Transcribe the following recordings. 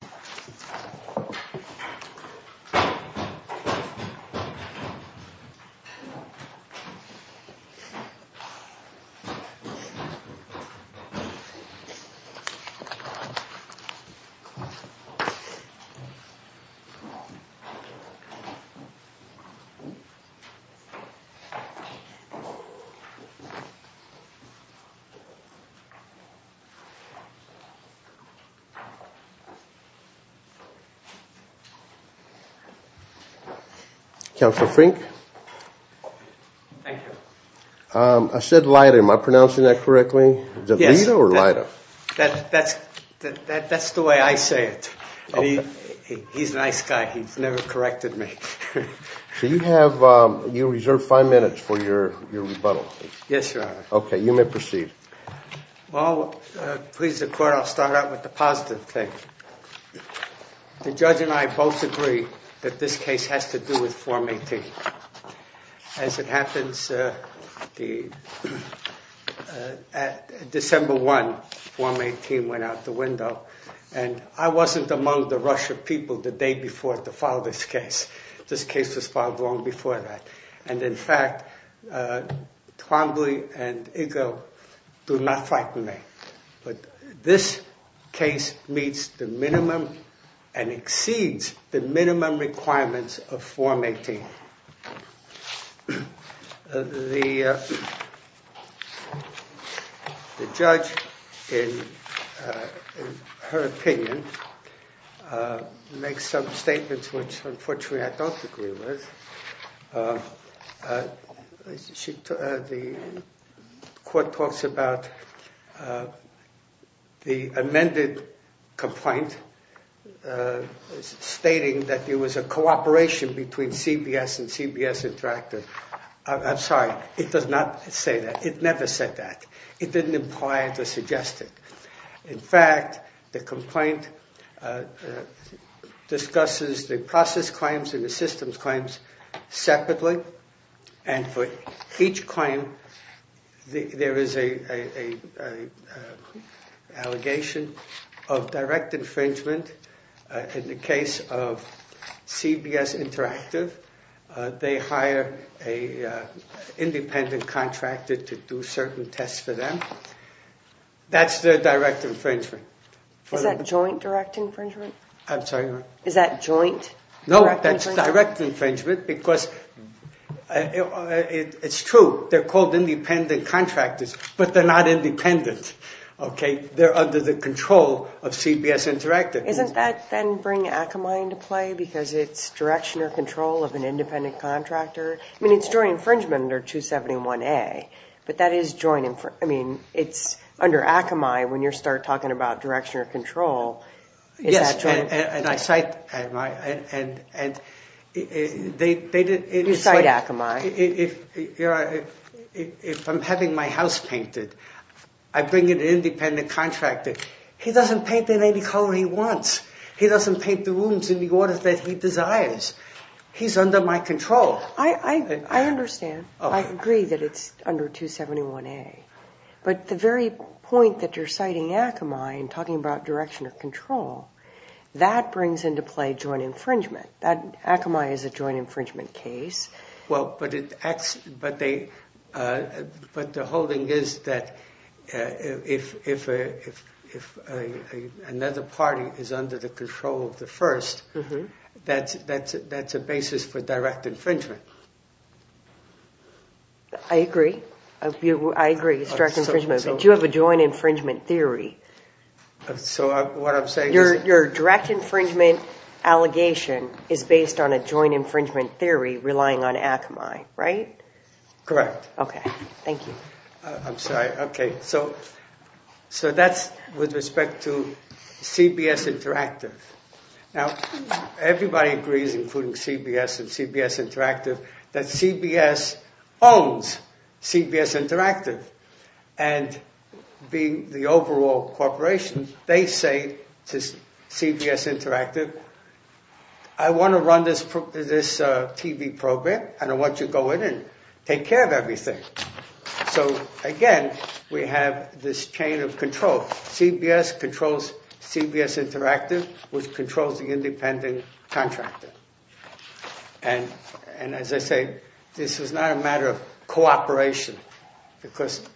Thank you. Counselor Fink. Thank you. I said Leida, am I pronouncing that correctly? That's the way I say it. He's a nice guy he's never corrected me. So you have, you reserved five minutes for your rebuttal. yes, Your Honor. Okay you may proceed. Please the court, I'll start with the positive thing. The judge and I both agree that this case has to do with Form 18. As it happens, December 1, Form 18 went out the window and I wasn't among the Russian people the day before to file this case. This case was filed long before that and in fact Twombly and Igo do not frighten me. But this case meets the minimum and exceeds the minimum requirements of Form 18. The judge, in her opinion, makes some statements which unfortunately I don't agree with. The court talks about the amended complaint stating that there was a cooperation between CBS and CBS Interactive. I'm sorry, it does not say that. It never said that. It didn't imply or suggest it. In fact, the complaint discusses the process claims and the systems claims separately. And for each claim, there is an allegation of direct infringement in the case of CBS Interactive. They hire an independent contractor to do certain tests for them. That's the direct infringement. Is that joint direct infringement? I'm sorry, what? Is that joint? No, that's direct infringement because it's true, they're called independent contractors but they're not independent, okay? They're under the control of CBS Interactive. Isn't that then bringing Akamai into play because it's direction or control of an independent contractor? I mean, it's joint infringement under 271A but that is joint infringement. I mean, it's under Akamai when you start talking about direction or control. Yes, and I cite Akamai. If I'm having my house painted, I bring in an independent contractor. He doesn't paint it any color he wants. He doesn't paint the rooms in the order that he desires. He's under my control. I understand. I agree that it's under 271A but the very point that you're citing Akamai and talking about direction or control, that brings into play joint infringement. Akamai is a joint infringement case. But the holding is that if another party is under the control of the first, that's a basis for direct infringement. I agree. I agree it's direct infringement. But you have a joint infringement theory. So what I'm saying is... Your direct infringement allegation is based on a joint infringement theory relying on Akamai, right? Correct. Okay, thank you. I'm sorry. Okay, so that's with respect to CBS Interactive. Now, everybody agrees, including CBS and CBS Interactive, that CBS owns CBS Interactive. And being the overall corporation, they say to CBS Interactive, I want to run this TV program and I want you to go in and take care of everything. So again, we have this chain of control. CBS controls CBS Interactive, which controls the independent contractor. And as I say, this is not a matter of cooperation. Because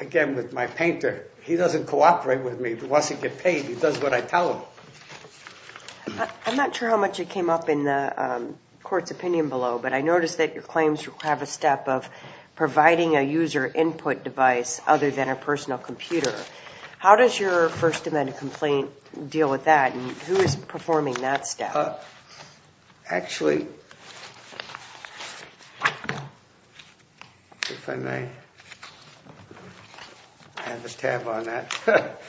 again, with my painter, he doesn't cooperate with me. He wants to get paid. He does what I tell him. I'm not sure how much it came up in the court's opinion below, but I noticed that your claims have a step of providing a user input device other than a personal computer. How does your First Amendment complaint deal with that? And who is performing that step? Actually, if I may, I have a tab on that.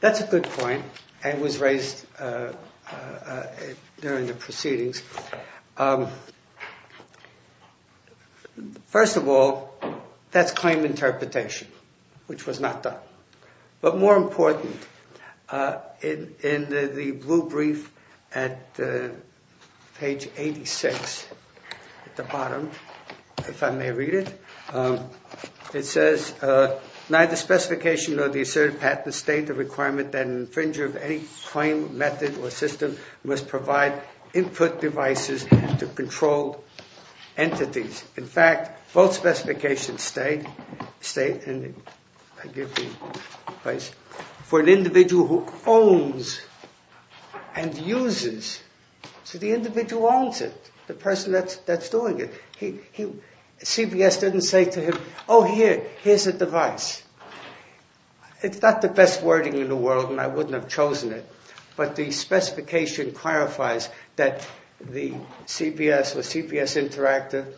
That's a good point. It was raised during the proceedings. First of all, that's claim interpretation, which was not done. But more important, in the blue brief at page 86 at the bottom, if I may read it, it says, neither specification nor the asserted patent state the requirement that an infringer of any claim, method, or system must provide input devices to controlled entities. In fact, both specifications state for an individual who owns and uses, so the individual owns it, the person that's doing it. CBS didn't say to him, oh, here, here's a device. It's not the best wording in the world, and I wouldn't have chosen it, but the specification clarifies that the CBS or CBS Interactive,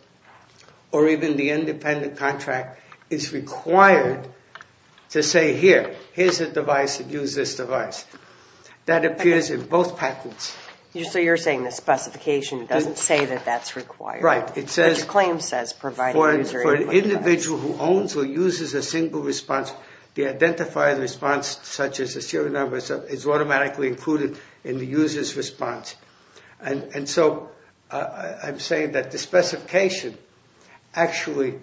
or even the independent contract, is required to say, here, here's a device, use this device. That appears in both patents. So you're saying the specification doesn't say that that's required? Right. But your claim says providing a user input device. The individual who owns or uses a single response, the identified response, such as the serial number, is automatically included in the user's response. And so I'm saying that the specification actually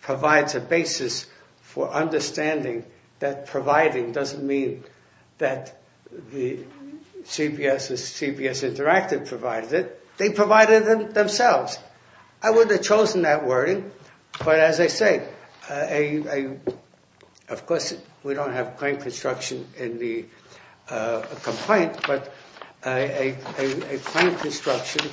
provides a basis for understanding that providing doesn't mean that the CBS or CBS Interactive provided it. They provided it themselves. I would have chosen that wording, but as I say, of course, we don't have claim construction in the complaint, but a claim construction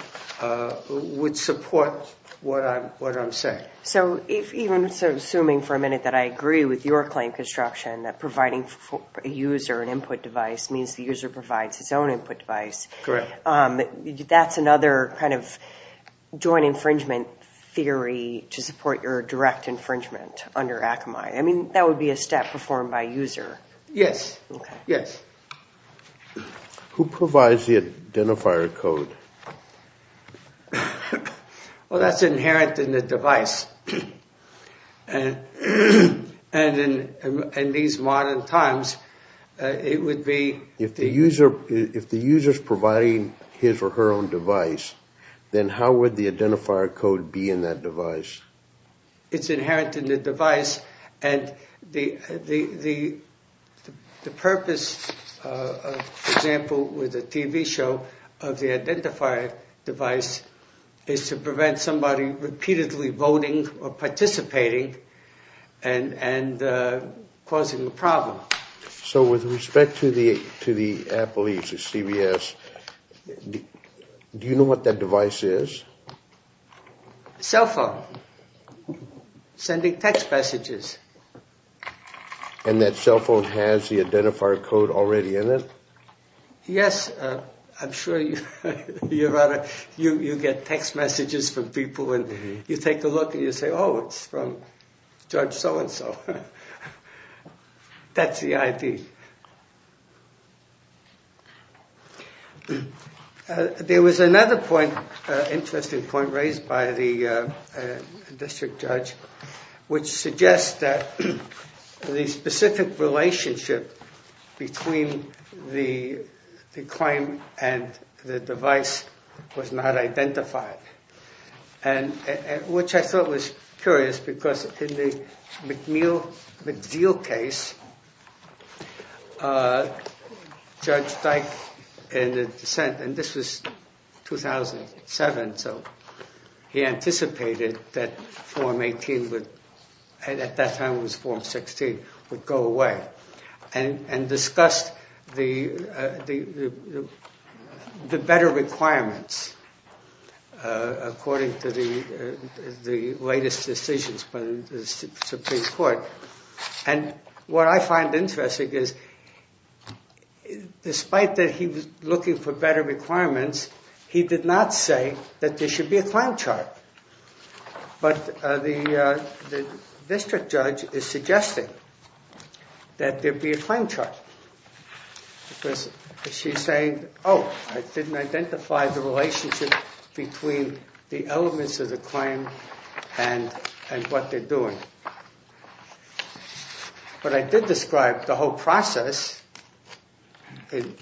would support what I'm saying. So even assuming for a minute that I agree with your claim construction, that providing a user an input device means the user provides his own input device. Correct. That's another kind of joint infringement theory to support your direct infringement under Akamai. I mean, that would be a step performed by user. Yes, yes. Who provides the identifier code? Well, that's inherent in the device. And in these modern times, it would be... If the user's providing his or her own device, then how would the identifier code be in that device? It's inherent in the device. And the purpose, for example, with a TV show of the identifier device is to prevent somebody repeatedly voting or participating and causing a problem. So with respect to the Apple Ease or CBS, do you know what that device is? Cell phone. Sending text messages. And that cell phone has the identifier code already in it? Yes, I'm sure you get text messages from people and you take a look and you say, oh, it's from George so and so. So that's the ID. There was another point, interesting point raised by the district judge, which suggests that the specific relationship between the claim and the device was not identified. And which I thought was curious because in the McNeil-McDeal case, Judge Dyke in the dissent, and this was 2007, so he anticipated that form 18 would, at that time it was form 16, would go away and discussed the better requirements according to the latest decisions by the Supreme Court. And what I find interesting is despite that he was looking for better requirements, he did not say that there should be a claim chart. But the district judge is suggesting that there be a claim chart. Because she's saying, oh, I didn't identify the relationship between the elements of the claim and what they're doing. But I did describe the whole process in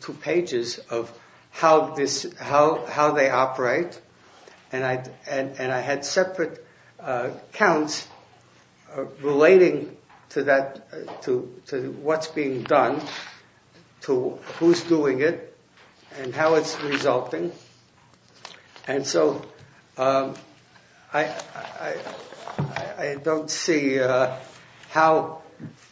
two pages of how they operate. And I had separate counts relating to what's being done, to who's doing it, and how it's resulting. And so I don't see how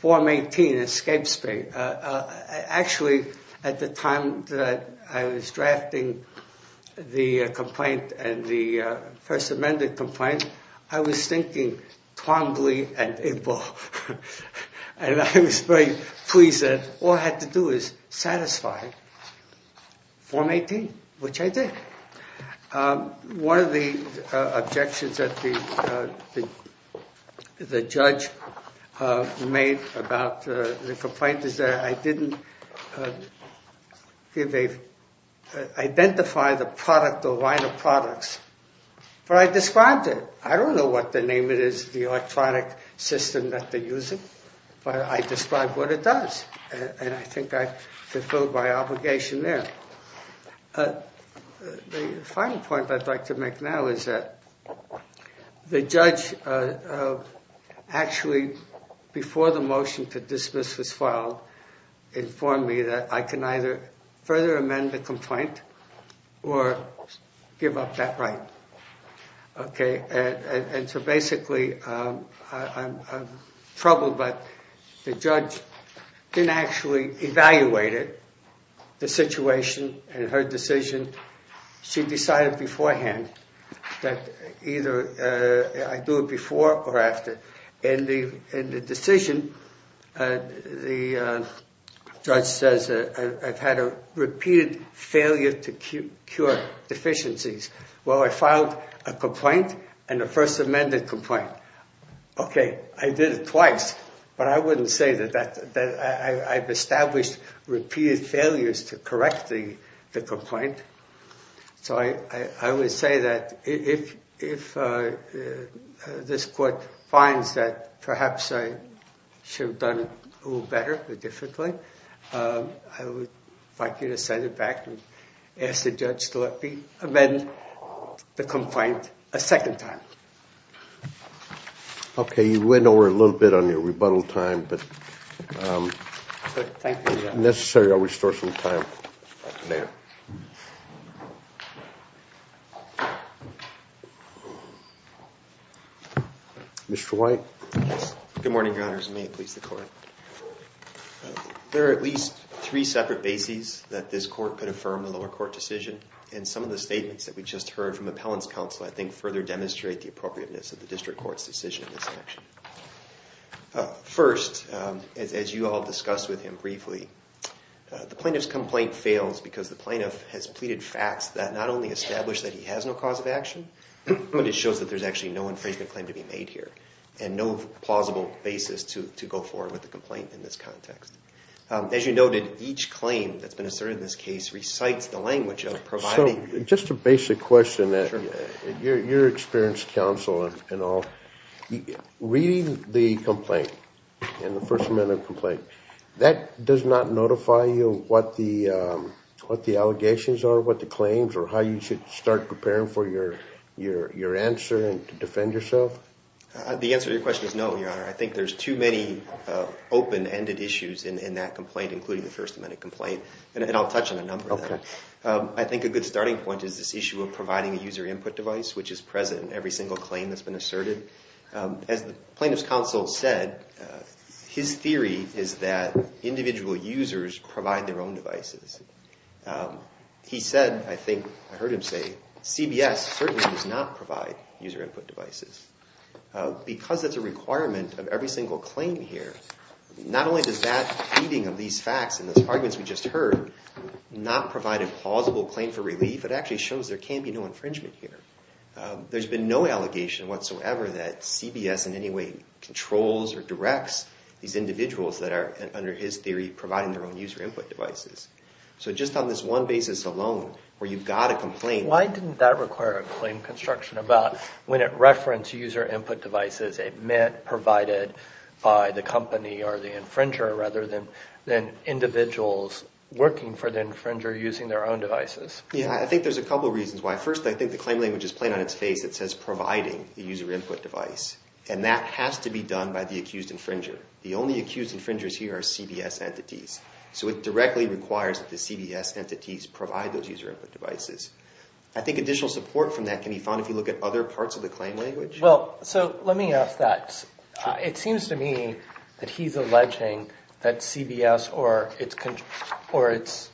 form 18 escapes me. Actually, at the time that I was drafting the complaint and the First Amendment complaint, I was thinking Twombly and Igbo. And I was very pleased that all I had to do is satisfy form 18, which I did. One of the objections that the judge made about the complaint is that I didn't identify the product or line of products. But I described it. I don't know what the name of it is, the electronic system that they use it. But I described what it does. And I think I fulfilled my obligation there. The final point I'd like to make now is that the judge actually, before the motion to dismiss was filed, informed me that I can either further amend the complaint or give up that right. OK, and so basically, I'm troubled. But the judge didn't actually evaluate it, the situation and her decision. She decided beforehand that either I do it before or after. And the decision, the judge says I've had a repeated failure to cure deficiencies. Well, I filed a complaint and a First Amendment complaint. OK, I did it twice. But I wouldn't say that I've established repeated failures to correct the complaint. So I would say that if this court finds that perhaps I should have done a little better, but differently, I would like you to send it back and ask the judge to let me amend the complaint a second time. OK, you went over a little bit on your rebuttal time. But if necessary, I'll restore some time later. Mr. White. Good morning, Your Honors. May it please the court. There are at least three separate bases that this court could affirm the lower court decision. And some of the statements that we just heard from Appellant's counsel, I think further demonstrate the appropriateness of the district court's decision in this section. First, as you all discussed with him briefly, the plaintiff's complaint fails because the plaintiff has pleaded facts that not only establish that he has no cause of action, but it shows that there's actually no infringement claim to be made here and no plausible basis to go forward with the complaint in this context. As you noted, each claim that's been asserted in this case recites the language of providing- Just a basic question. You're experienced counsel and all. Reading the complaint, in the First Amendment complaint, that does not notify you what the allegations are, what the claims are, how you should start preparing for your answer and to defend yourself? The answer to your question is no, Your Honor. I think there's too many open-ended issues in that complaint, including the First Amendment complaint. And I'll touch on a number of them. I think a good starting point is this issue of providing a user input device, which is present in every single claim that's been asserted. As the plaintiff's counsel said, his theory is that individual users provide their own devices. He said, I think I heard him say, CBS certainly does not provide user input devices. Because it's a requirement of every single claim here, not only does that feeding of these facts and those arguments we just heard not provide a plausible claim for relief, it actually shows there can be no infringement here. There's been no allegation whatsoever that CBS in any way controls or directs these individuals that are, under his theory, providing their own user input devices. So just on this one basis alone, where you've got a complaint... Why didn't that require a claim construction about when it referenced user input devices, it meant provided by the company or the infringer rather than individuals working for the infringer using their own devices? Yeah, I think there's a couple of reasons why. First, I think the claim language is plain on its face. It says providing the user input device. And that has to be done by the accused infringer. The only accused infringers here are CBS entities. So it directly requires that the CBS entities provide those user input devices. I think additional support from that can be found if you look at other parts of the claim language. Well, so let me ask that. It seems to me that he's alleging that CBS or its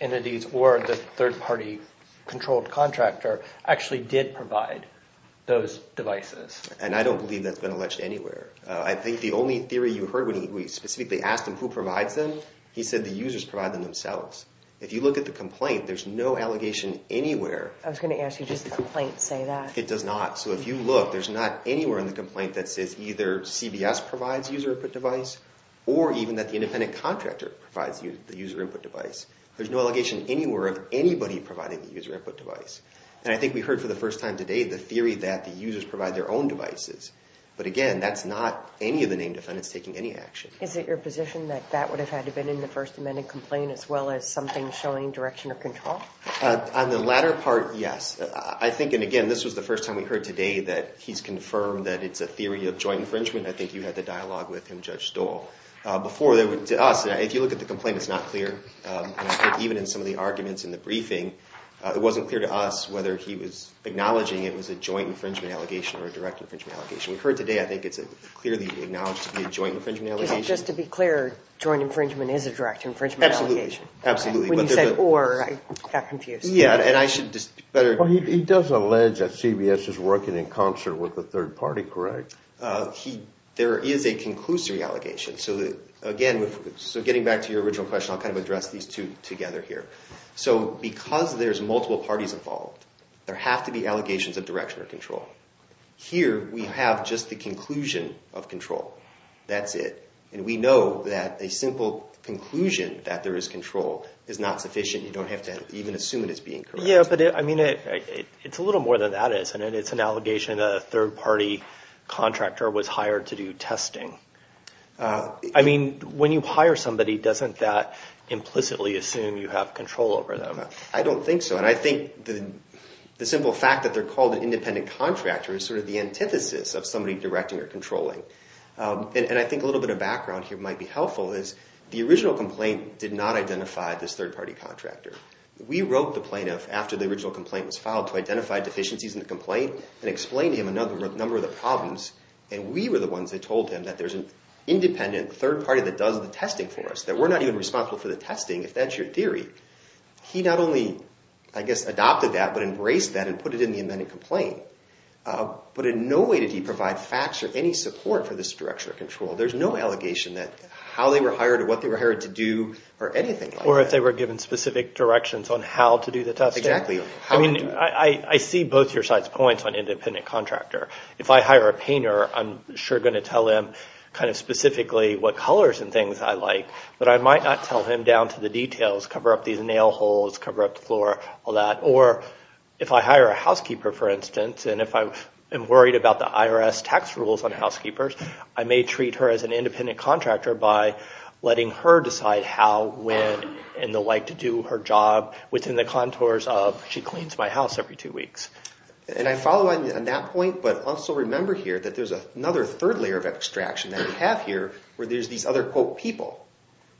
entities or the third party controlled contractor actually did provide those devices. And I don't believe that's been alleged anywhere. I think the only theory you heard when we specifically asked him who provides them, he said the users provide them themselves. If you look at the complaint, there's no allegation anywhere. I was going to ask you, does the complaint say that? It does not. So if you look, there's not anywhere in the complaint that says either CBS provides user input device or even that the independent contractor provides the user input device. There's no allegation anywhere of anybody providing the user input device. And I think we heard for the first time today the theory that the users provide their own devices. But again, that's not any of the named defendants taking any action. Is it your position that that would have had to have been in the First Amendment complaint as well as something showing direction or control? On the latter part, yes. I think, and again, this was the first time we heard today that he's confirmed that it's a theory of joint infringement. I think you had the dialogue with him, Judge Stoll. Before, to us, if you look at the complaint, it's not clear. And I think even in some of the arguments in the briefing, it wasn't clear to us whether he was acknowledging it was a joint infringement allegation or a direct infringement allegation. We heard today, I think it's clearly acknowledged to be a joint infringement allegation. Is it just to be clear, joint infringement is a direct infringement allegation? Absolutely. Absolutely. When you said or, I got confused. Yeah, and I should just better- Well, he does allege that CBS is working in concert with the third party, correct? There is a conclusory allegation. Again, so getting back to your original question, I'll kind of address these two together here. So because there's multiple parties involved, there have to be allegations of direction or control. Here, we have just the conclusion of control. That's it. And we know that a simple conclusion that there is control is not sufficient. You don't have to even assume that it's being correct. Yeah, but I mean, it's a little more than that is. And it's an allegation that a third party contractor was hired to do testing. I mean, when you hire somebody, doesn't that implicitly assume you have control over them? I don't think so. And I think the simple fact that they're called an independent contractor is sort of the antithesis of somebody directing or controlling. And I think a little bit of background here might be helpful is the original complaint did not identify this third party contractor. We wrote the plaintiff after the original complaint was filed to identify deficiencies in the complaint and explain to him a number of the problems. And we were the ones that told him that there's an independent third party that does the testing for us, that we're not even responsible for the testing, if that's your theory. He not only, I guess, adopted that, but embraced that and put it in the amended complaint. But in no way did he provide facts or any support for this direction of control. There's no allegation that how they were hired or what they were hired to do or anything. Or if they were given specific directions on how to do the testing. Exactly. I mean, I see both your sides' points on independent contractor. If I hire a painter, I'm sure going to tell him kind of specifically what colors and things I like. But I might not tell him down to the details, cover up these nail holes, cover up the floor, all that. Or if I hire a housekeeper, for instance, and if I am worried about the IRS tax rules on housekeepers, I may treat her as an independent contractor by letting her decide how, when, and the like to do her job within the contours of she cleans my house every two weeks. And I follow on that point. But also remember here that there's another third layer of abstraction that we have here where there's these other, quote, people.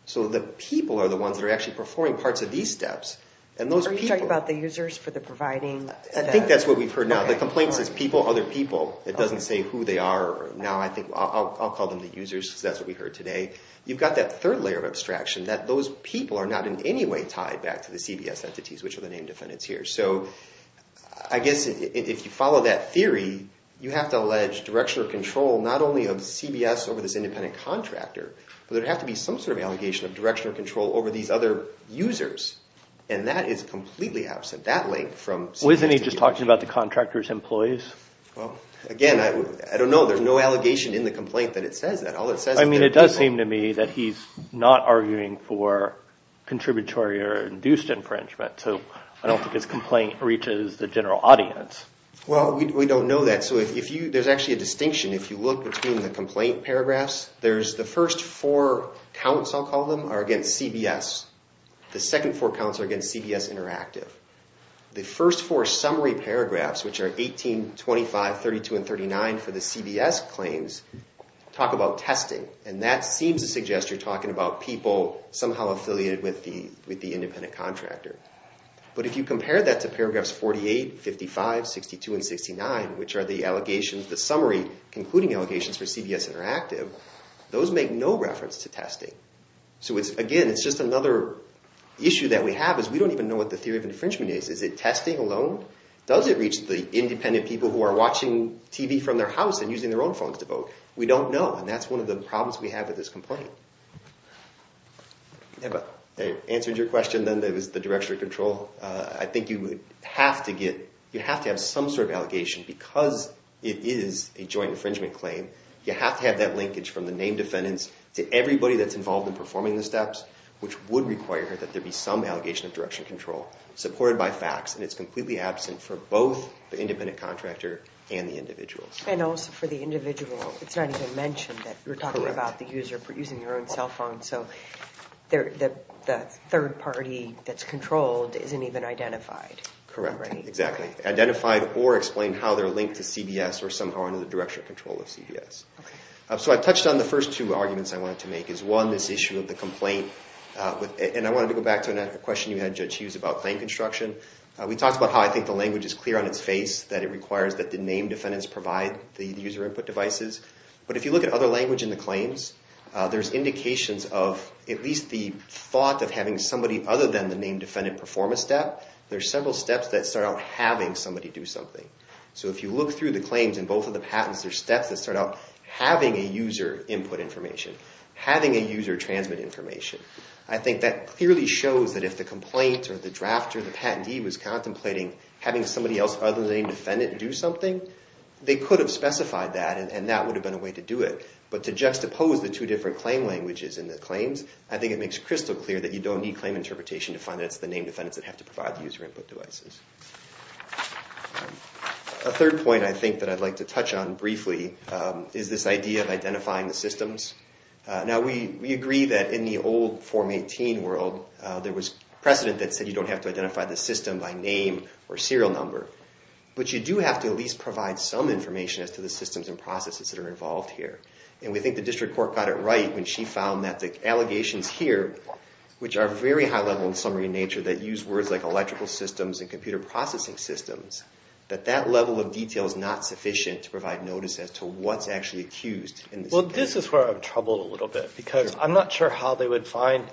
So the people are the ones that are actually performing parts of these steps. And those people... Are you talking about the users for the providing? I think that's what we've heard now. The complaint says people, other people. It doesn't say who they are. Now I think I'll call them the users because that's what we heard today. You've got that third layer of abstraction that those people are not in any way tied back to the CBS entities, which are the name defendants here. So I guess if you follow that theory, you have to allege direction or control not only of CBS over this independent contractor, but there'd have to be some sort of allegation of direction or control over these other users. And that is completely absent. That link from... Wasn't he just talking about the contractor's employees? Well, again, I don't know. There's no allegation in the complaint that it says that. All it says... I mean, it does seem to me that he's not arguing for contributory or induced infringement. So I don't think his complaint reaches the general audience. Well, we don't know that. So there's actually a distinction. If you look between the complaint paragraphs, there's the first four counts, I'll call them, are against CBS. The second four counts are against CBS Interactive. The first four summary paragraphs, which are 18, 25, 32, and 39 for the CBS claims, talk about testing. And that seems to suggest you're talking about people somehow affiliated with the independent contractor. But if you compare that to paragraphs 48, 55, 62, and 69, which are the allegations, the summary concluding allegations for CBS Interactive, those make no reference to testing. So again, it's just another issue that we have is we don't even know what the theory of infringement is. Is it testing alone? Does it reach the independent people who are watching TV from their house and using their own phones to vote? We don't know. And that's one of the problems we have with this complaint. Yeah, but I answered your question then that was the direction of control. I think you would have to get, you have to have some sort of allegation because it is a joint infringement claim. You have to have that linkage from the named defendants to everybody that's involved in performing the steps, which would require that there be some allegation of direction of control supported by facts. And it's completely absent for both the independent contractor and the individuals. And also for the individual, it's not even mentioned that you're talking about the user using their own cell phone. So the third party that's controlled isn't even identified. Correct. Exactly. Identified or explained how they're linked to CBS or somehow under the direction of control of CBS. So I've touched on the first two arguments I wanted to make is one, this issue of the complaint. And I wanted to go back to another question you had, Judge Hughes, about claim construction. We talked about how I think the language is clear on its face that it requires that the named defendants provide the user input devices. But if you look at other language in the claims, there's indications of at least the thought of having somebody other than the named defendant perform a step. There's several steps that start out having somebody do something. So if you look through the claims in both of the patents, there's steps that start out having a user input information, having a user transmit information. I think that clearly shows that if the complaint or the drafter, the patentee was contemplating having somebody else other than the named defendant do something, they could have specified that and that would have been a way to do it. But to juxtapose the two different claim languages in the claims, I think it makes crystal clear that you don't need claim interpretation to find that it's the named defendants that have to provide the user input devices. A third point I think that I'd like to touch on briefly is this idea of identifying the systems. Now, we agree that in the old Form 18 world, there was precedent that said you don't have to identify the system by name or serial number. But you do have to at least provide some information as to the systems and processes that are involved here. And we think the district court got it right when she found that the allegations here, which are very high level in summary in nature that use words like electrical systems and computer processing systems, that that level of detail is not sufficient to provide notice as to what's actually accused in this. Well, this is where I'm troubled a little bit because I'm not sure how they would find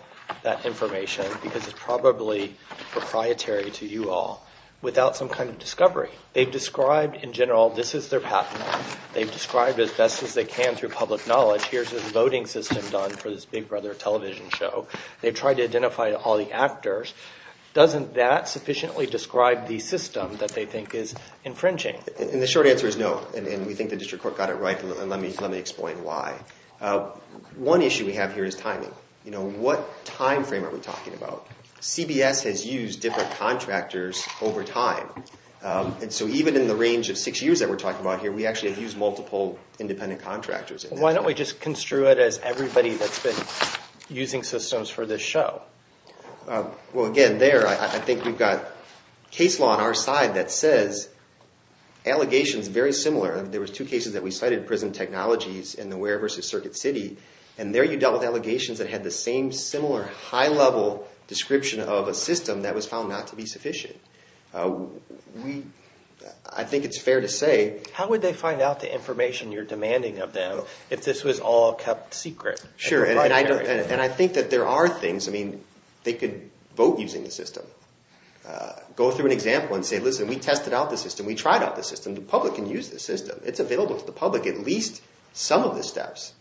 that information because it's probably proprietary to you all without some kind of discovery. They've described in general, this is their path. They've described as best as they can through public knowledge. Here's a voting system done for this Big Brother television show. They've tried to identify all the actors. Doesn't that sufficiently describe the system that they think is infringing? And the short answer is no. And we think the district court got it right. And let me explain why. One issue we have here is timing. You know, what time frame are we talking about? CBS has used different contractors over time. And so even in the range of six years that we're talking about here, we actually have used multiple independent contractors. Why don't we just construe it as everybody that's been using systems for this show? Well, again, there, I think we've got case law on our side that says allegations very similar. There was two cases that we cited, prison technologies and the Ware versus Circuit City. And there you dealt with allegations that had the same similar high level description of a system that was found not to be sufficient. We, I think it's fair to say. How would they find out the information you're demanding of them if this was all kept secret? Sure. And I don't, and I think that there are things, I mean, they could vote using the system. Go through an example and say, listen, we tested out the system. We tried out the system. The public can use the system. It's available to the public. At least some of the steps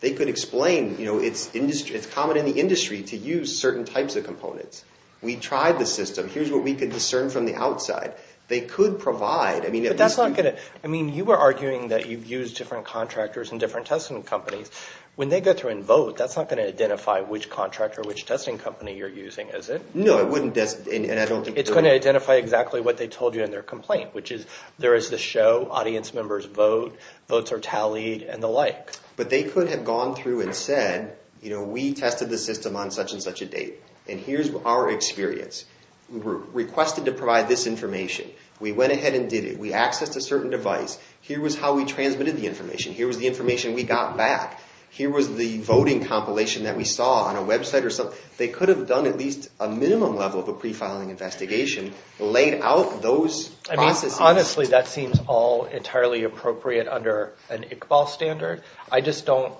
they could explain, you know, it's industry, it's common in the industry to use certain types of components. We tried the system. Here's what we could discern from the outside. They could provide, I mean. But that's not going to, I mean, you were arguing that you've used different contractors and different testing companies. When they go through and vote, that's not going to identify which contractor, which testing company you're using, is it? No, it wouldn't. It's going to identify exactly what they told you in their complaint, which is there is the show, audience members vote, votes are tallied and the like. But they could have gone through and said, you know, we tested the system on such and such a date. And here's our experience. Requested to provide this information. We went ahead and did it. We accessed a certain device. Here was how we transmitted the information. Here was the information we got back. Here was the voting compilation that we saw on a website or something. They could have done at least a minimum level of a pre-filing investigation, laid out those processes. Honestly, that seems all entirely appropriate under an ICBAL standard. The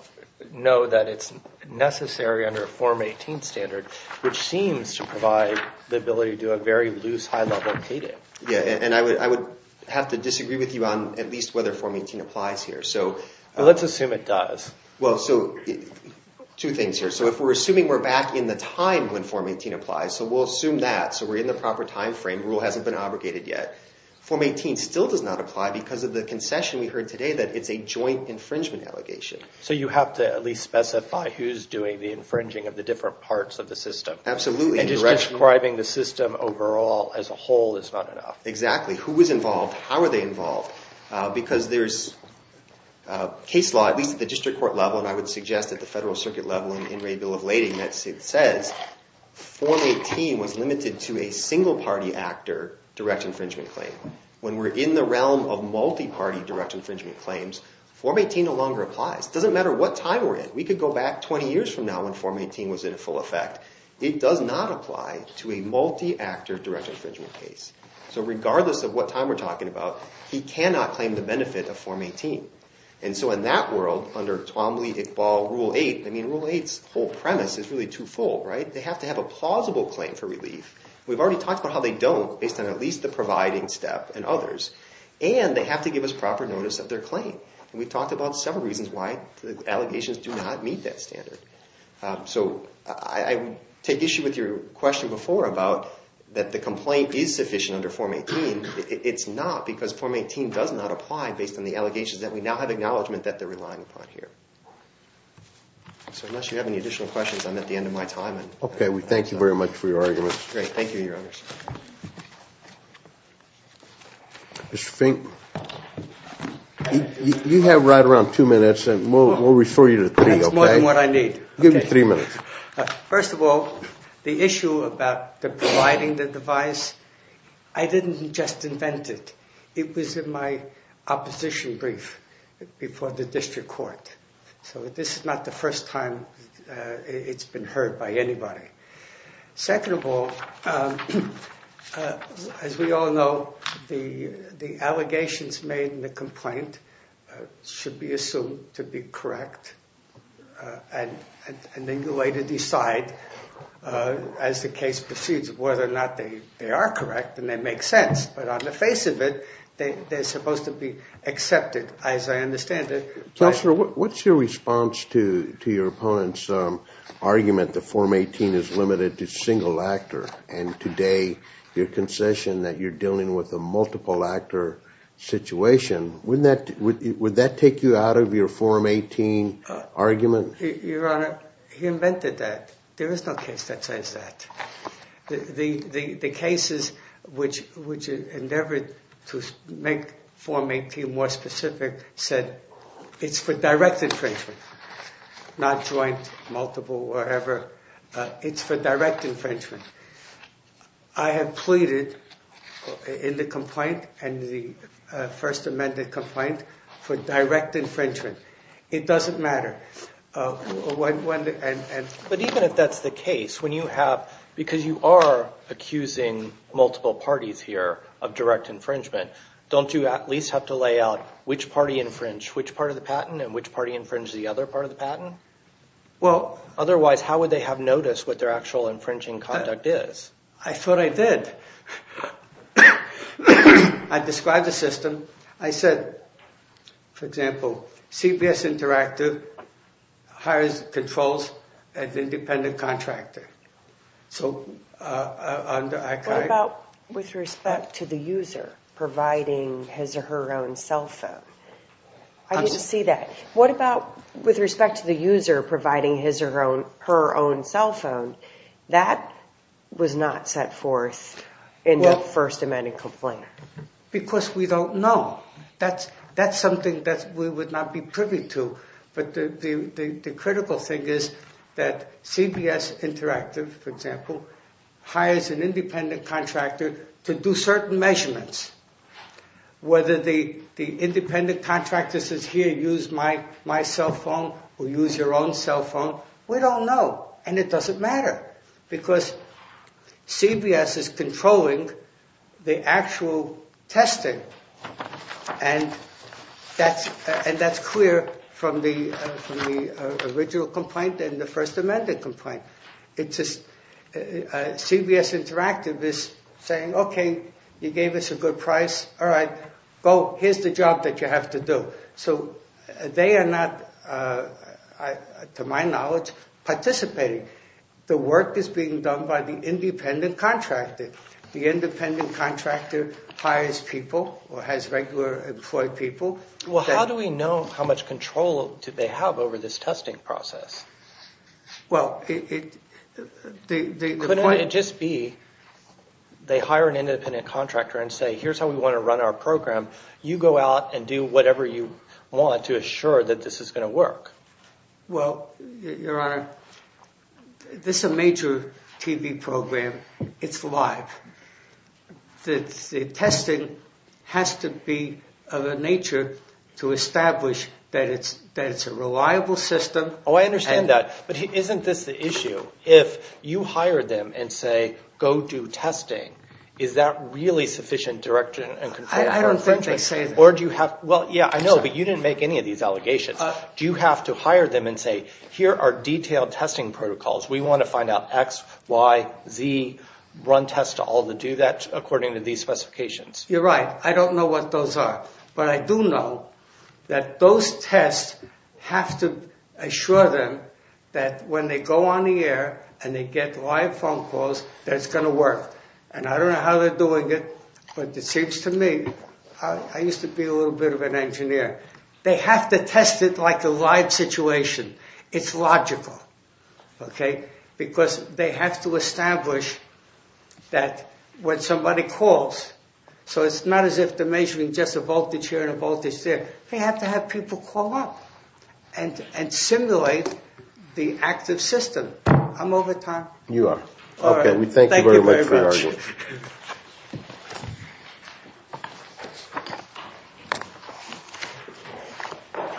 ability to do a very loose high-level payday. Yeah, and I would have to disagree with you on at least whether Form 18 applies here. So let's assume it does. Well, so two things here. So if we're assuming we're back in the time when Form 18 applies, so we'll assume that. So we're in the proper time frame. Rule hasn't been abrogated yet. Form 18 still does not apply because of the concession we heard today that it's a joint infringement allegation. So you have to at least specify who's doing the infringing of the different parts of the system. Absolutely. Just describing the system overall as a whole is not enough. Exactly. Who was involved? How were they involved? Because there's case law, at least at the district court level, and I would suggest at the federal circuit level and in Ray Bill of Lading that it says Form 18 was limited to a single-party actor direct infringement claim. When we're in the realm of multi-party direct infringement claims, Form 18 no longer applies. It doesn't matter what time we're in. We could go back 20 years from now when Form 18 was in full effect. It does not apply to a multi-actor direct infringement case. So regardless of what time we're talking about, he cannot claim the benefit of Form 18. And so in that world, under Twombly, Iqbal, Rule 8, I mean Rule 8's whole premise is really twofold, right? They have to have a plausible claim for relief. We've already talked about how they don't based on at least the providing step and others. And they have to give us proper notice of their claim. And we've talked about several reasons why the allegations do not meet that standard. So I take issue with your question before about that the complaint is sufficient under Form 18. It's not because Form 18 does not apply based on the allegations that we now have acknowledgement that they're relying upon here. So unless you have any additional questions, I'm at the end of my time. Okay. We thank you very much for your arguments. Great. Thank you, Your Honors. Mr. Fink, you have right around two minutes, and we'll refer you to three, okay? Give me three minutes. First of all, the issue about the providing the device, I didn't just invent it. It was in my opposition brief before the district court. So this is not the first time it's been heard by anybody. Second of all, as we all know, the allegations made in the complaint should be assumed to be correct, and then you later decide, as the case proceeds, whether or not they are correct and they make sense. But on the face of it, they're supposed to be accepted, as I understand it. Counselor, what's your response to your opponent's argument that Form 18 is limited to single actor? And today, your concession that you're dealing with a multiple actor situation, would that take you out of your Form 18 argument? Your Honor, he invented that. There is no case that says that. The cases which endeavored to make Form 18 more specific said, it's for direct infringement, not joint, multiple, whatever. It's for direct infringement. I have pleaded in the complaint, in the first amended complaint, for direct infringement. It doesn't matter. But even if that's the case, when you have, because you are accusing multiple parties here of direct infringement, don't you at least have to lay out which party infringed which part of the patent and which party infringed the other part of the patent? Well, otherwise, how would they have noticed what their actual infringing conduct is? I thought I did. I described the system. I said, for example, CBS Interactive hires, controls an independent contractor. So, under ICAI... What about with respect to the user providing his or her own cell phone? I just see that. What about with respect to the user providing his or her own cell phone? That was not set forth in the first amended complaint. Because we don't know. That's something that we would not be privy to. But the critical thing is that CBS Interactive, for example, hires an independent contractor to do certain measurements. Whether the independent contractor says, here, use my cell phone or use your own cell phone, we don't know. And it doesn't matter. Because CBS is controlling the actual testing. And that's clear from the original complaint and the first amended complaint. CBS Interactive is saying, okay, you gave us a good price. All right, go. Here's the job that you have to do. So, they are not, to my knowledge, participating. The work is being done by the independent contractor. The independent contractor hires people or has regular employed people. Well, how do we know how much control do they have over this testing process? Well, it... Couldn't it just be they hire an independent contractor and say, here's how we want to run our program. You go out and do whatever you want to assure that this is going to work. Well, Your Honor, this is a major TV program. It's live. The testing has to be of a nature to establish that it's a reliable system. Oh, I understand that. But isn't this the issue? If you hire them and say, go do testing, is that really sufficient direction and control? I don't think they say that. Or do you have... Well, yeah, I know, but you didn't make any of these allegations. Do you have to hire them and say, here are detailed testing protocols. We want to find out X, Y, Z, run tests to all to do that according to these specifications? You're right. I don't know what those are. But I do know that those tests have to assure them that when they go on the air and they get live phone calls, that it's going to work. And I don't know how they're doing it. But it seems to me, I used to be a little bit of an engineer. They have to test it like a live situation. It's logical. Okay. Because they have to establish that when somebody calls, so it's not as if they're measuring just a voltage here and a voltage there. They have to have people call up and simulate the active system. I'm over time. You are. All right. We thank you very much for the argument. Thank you.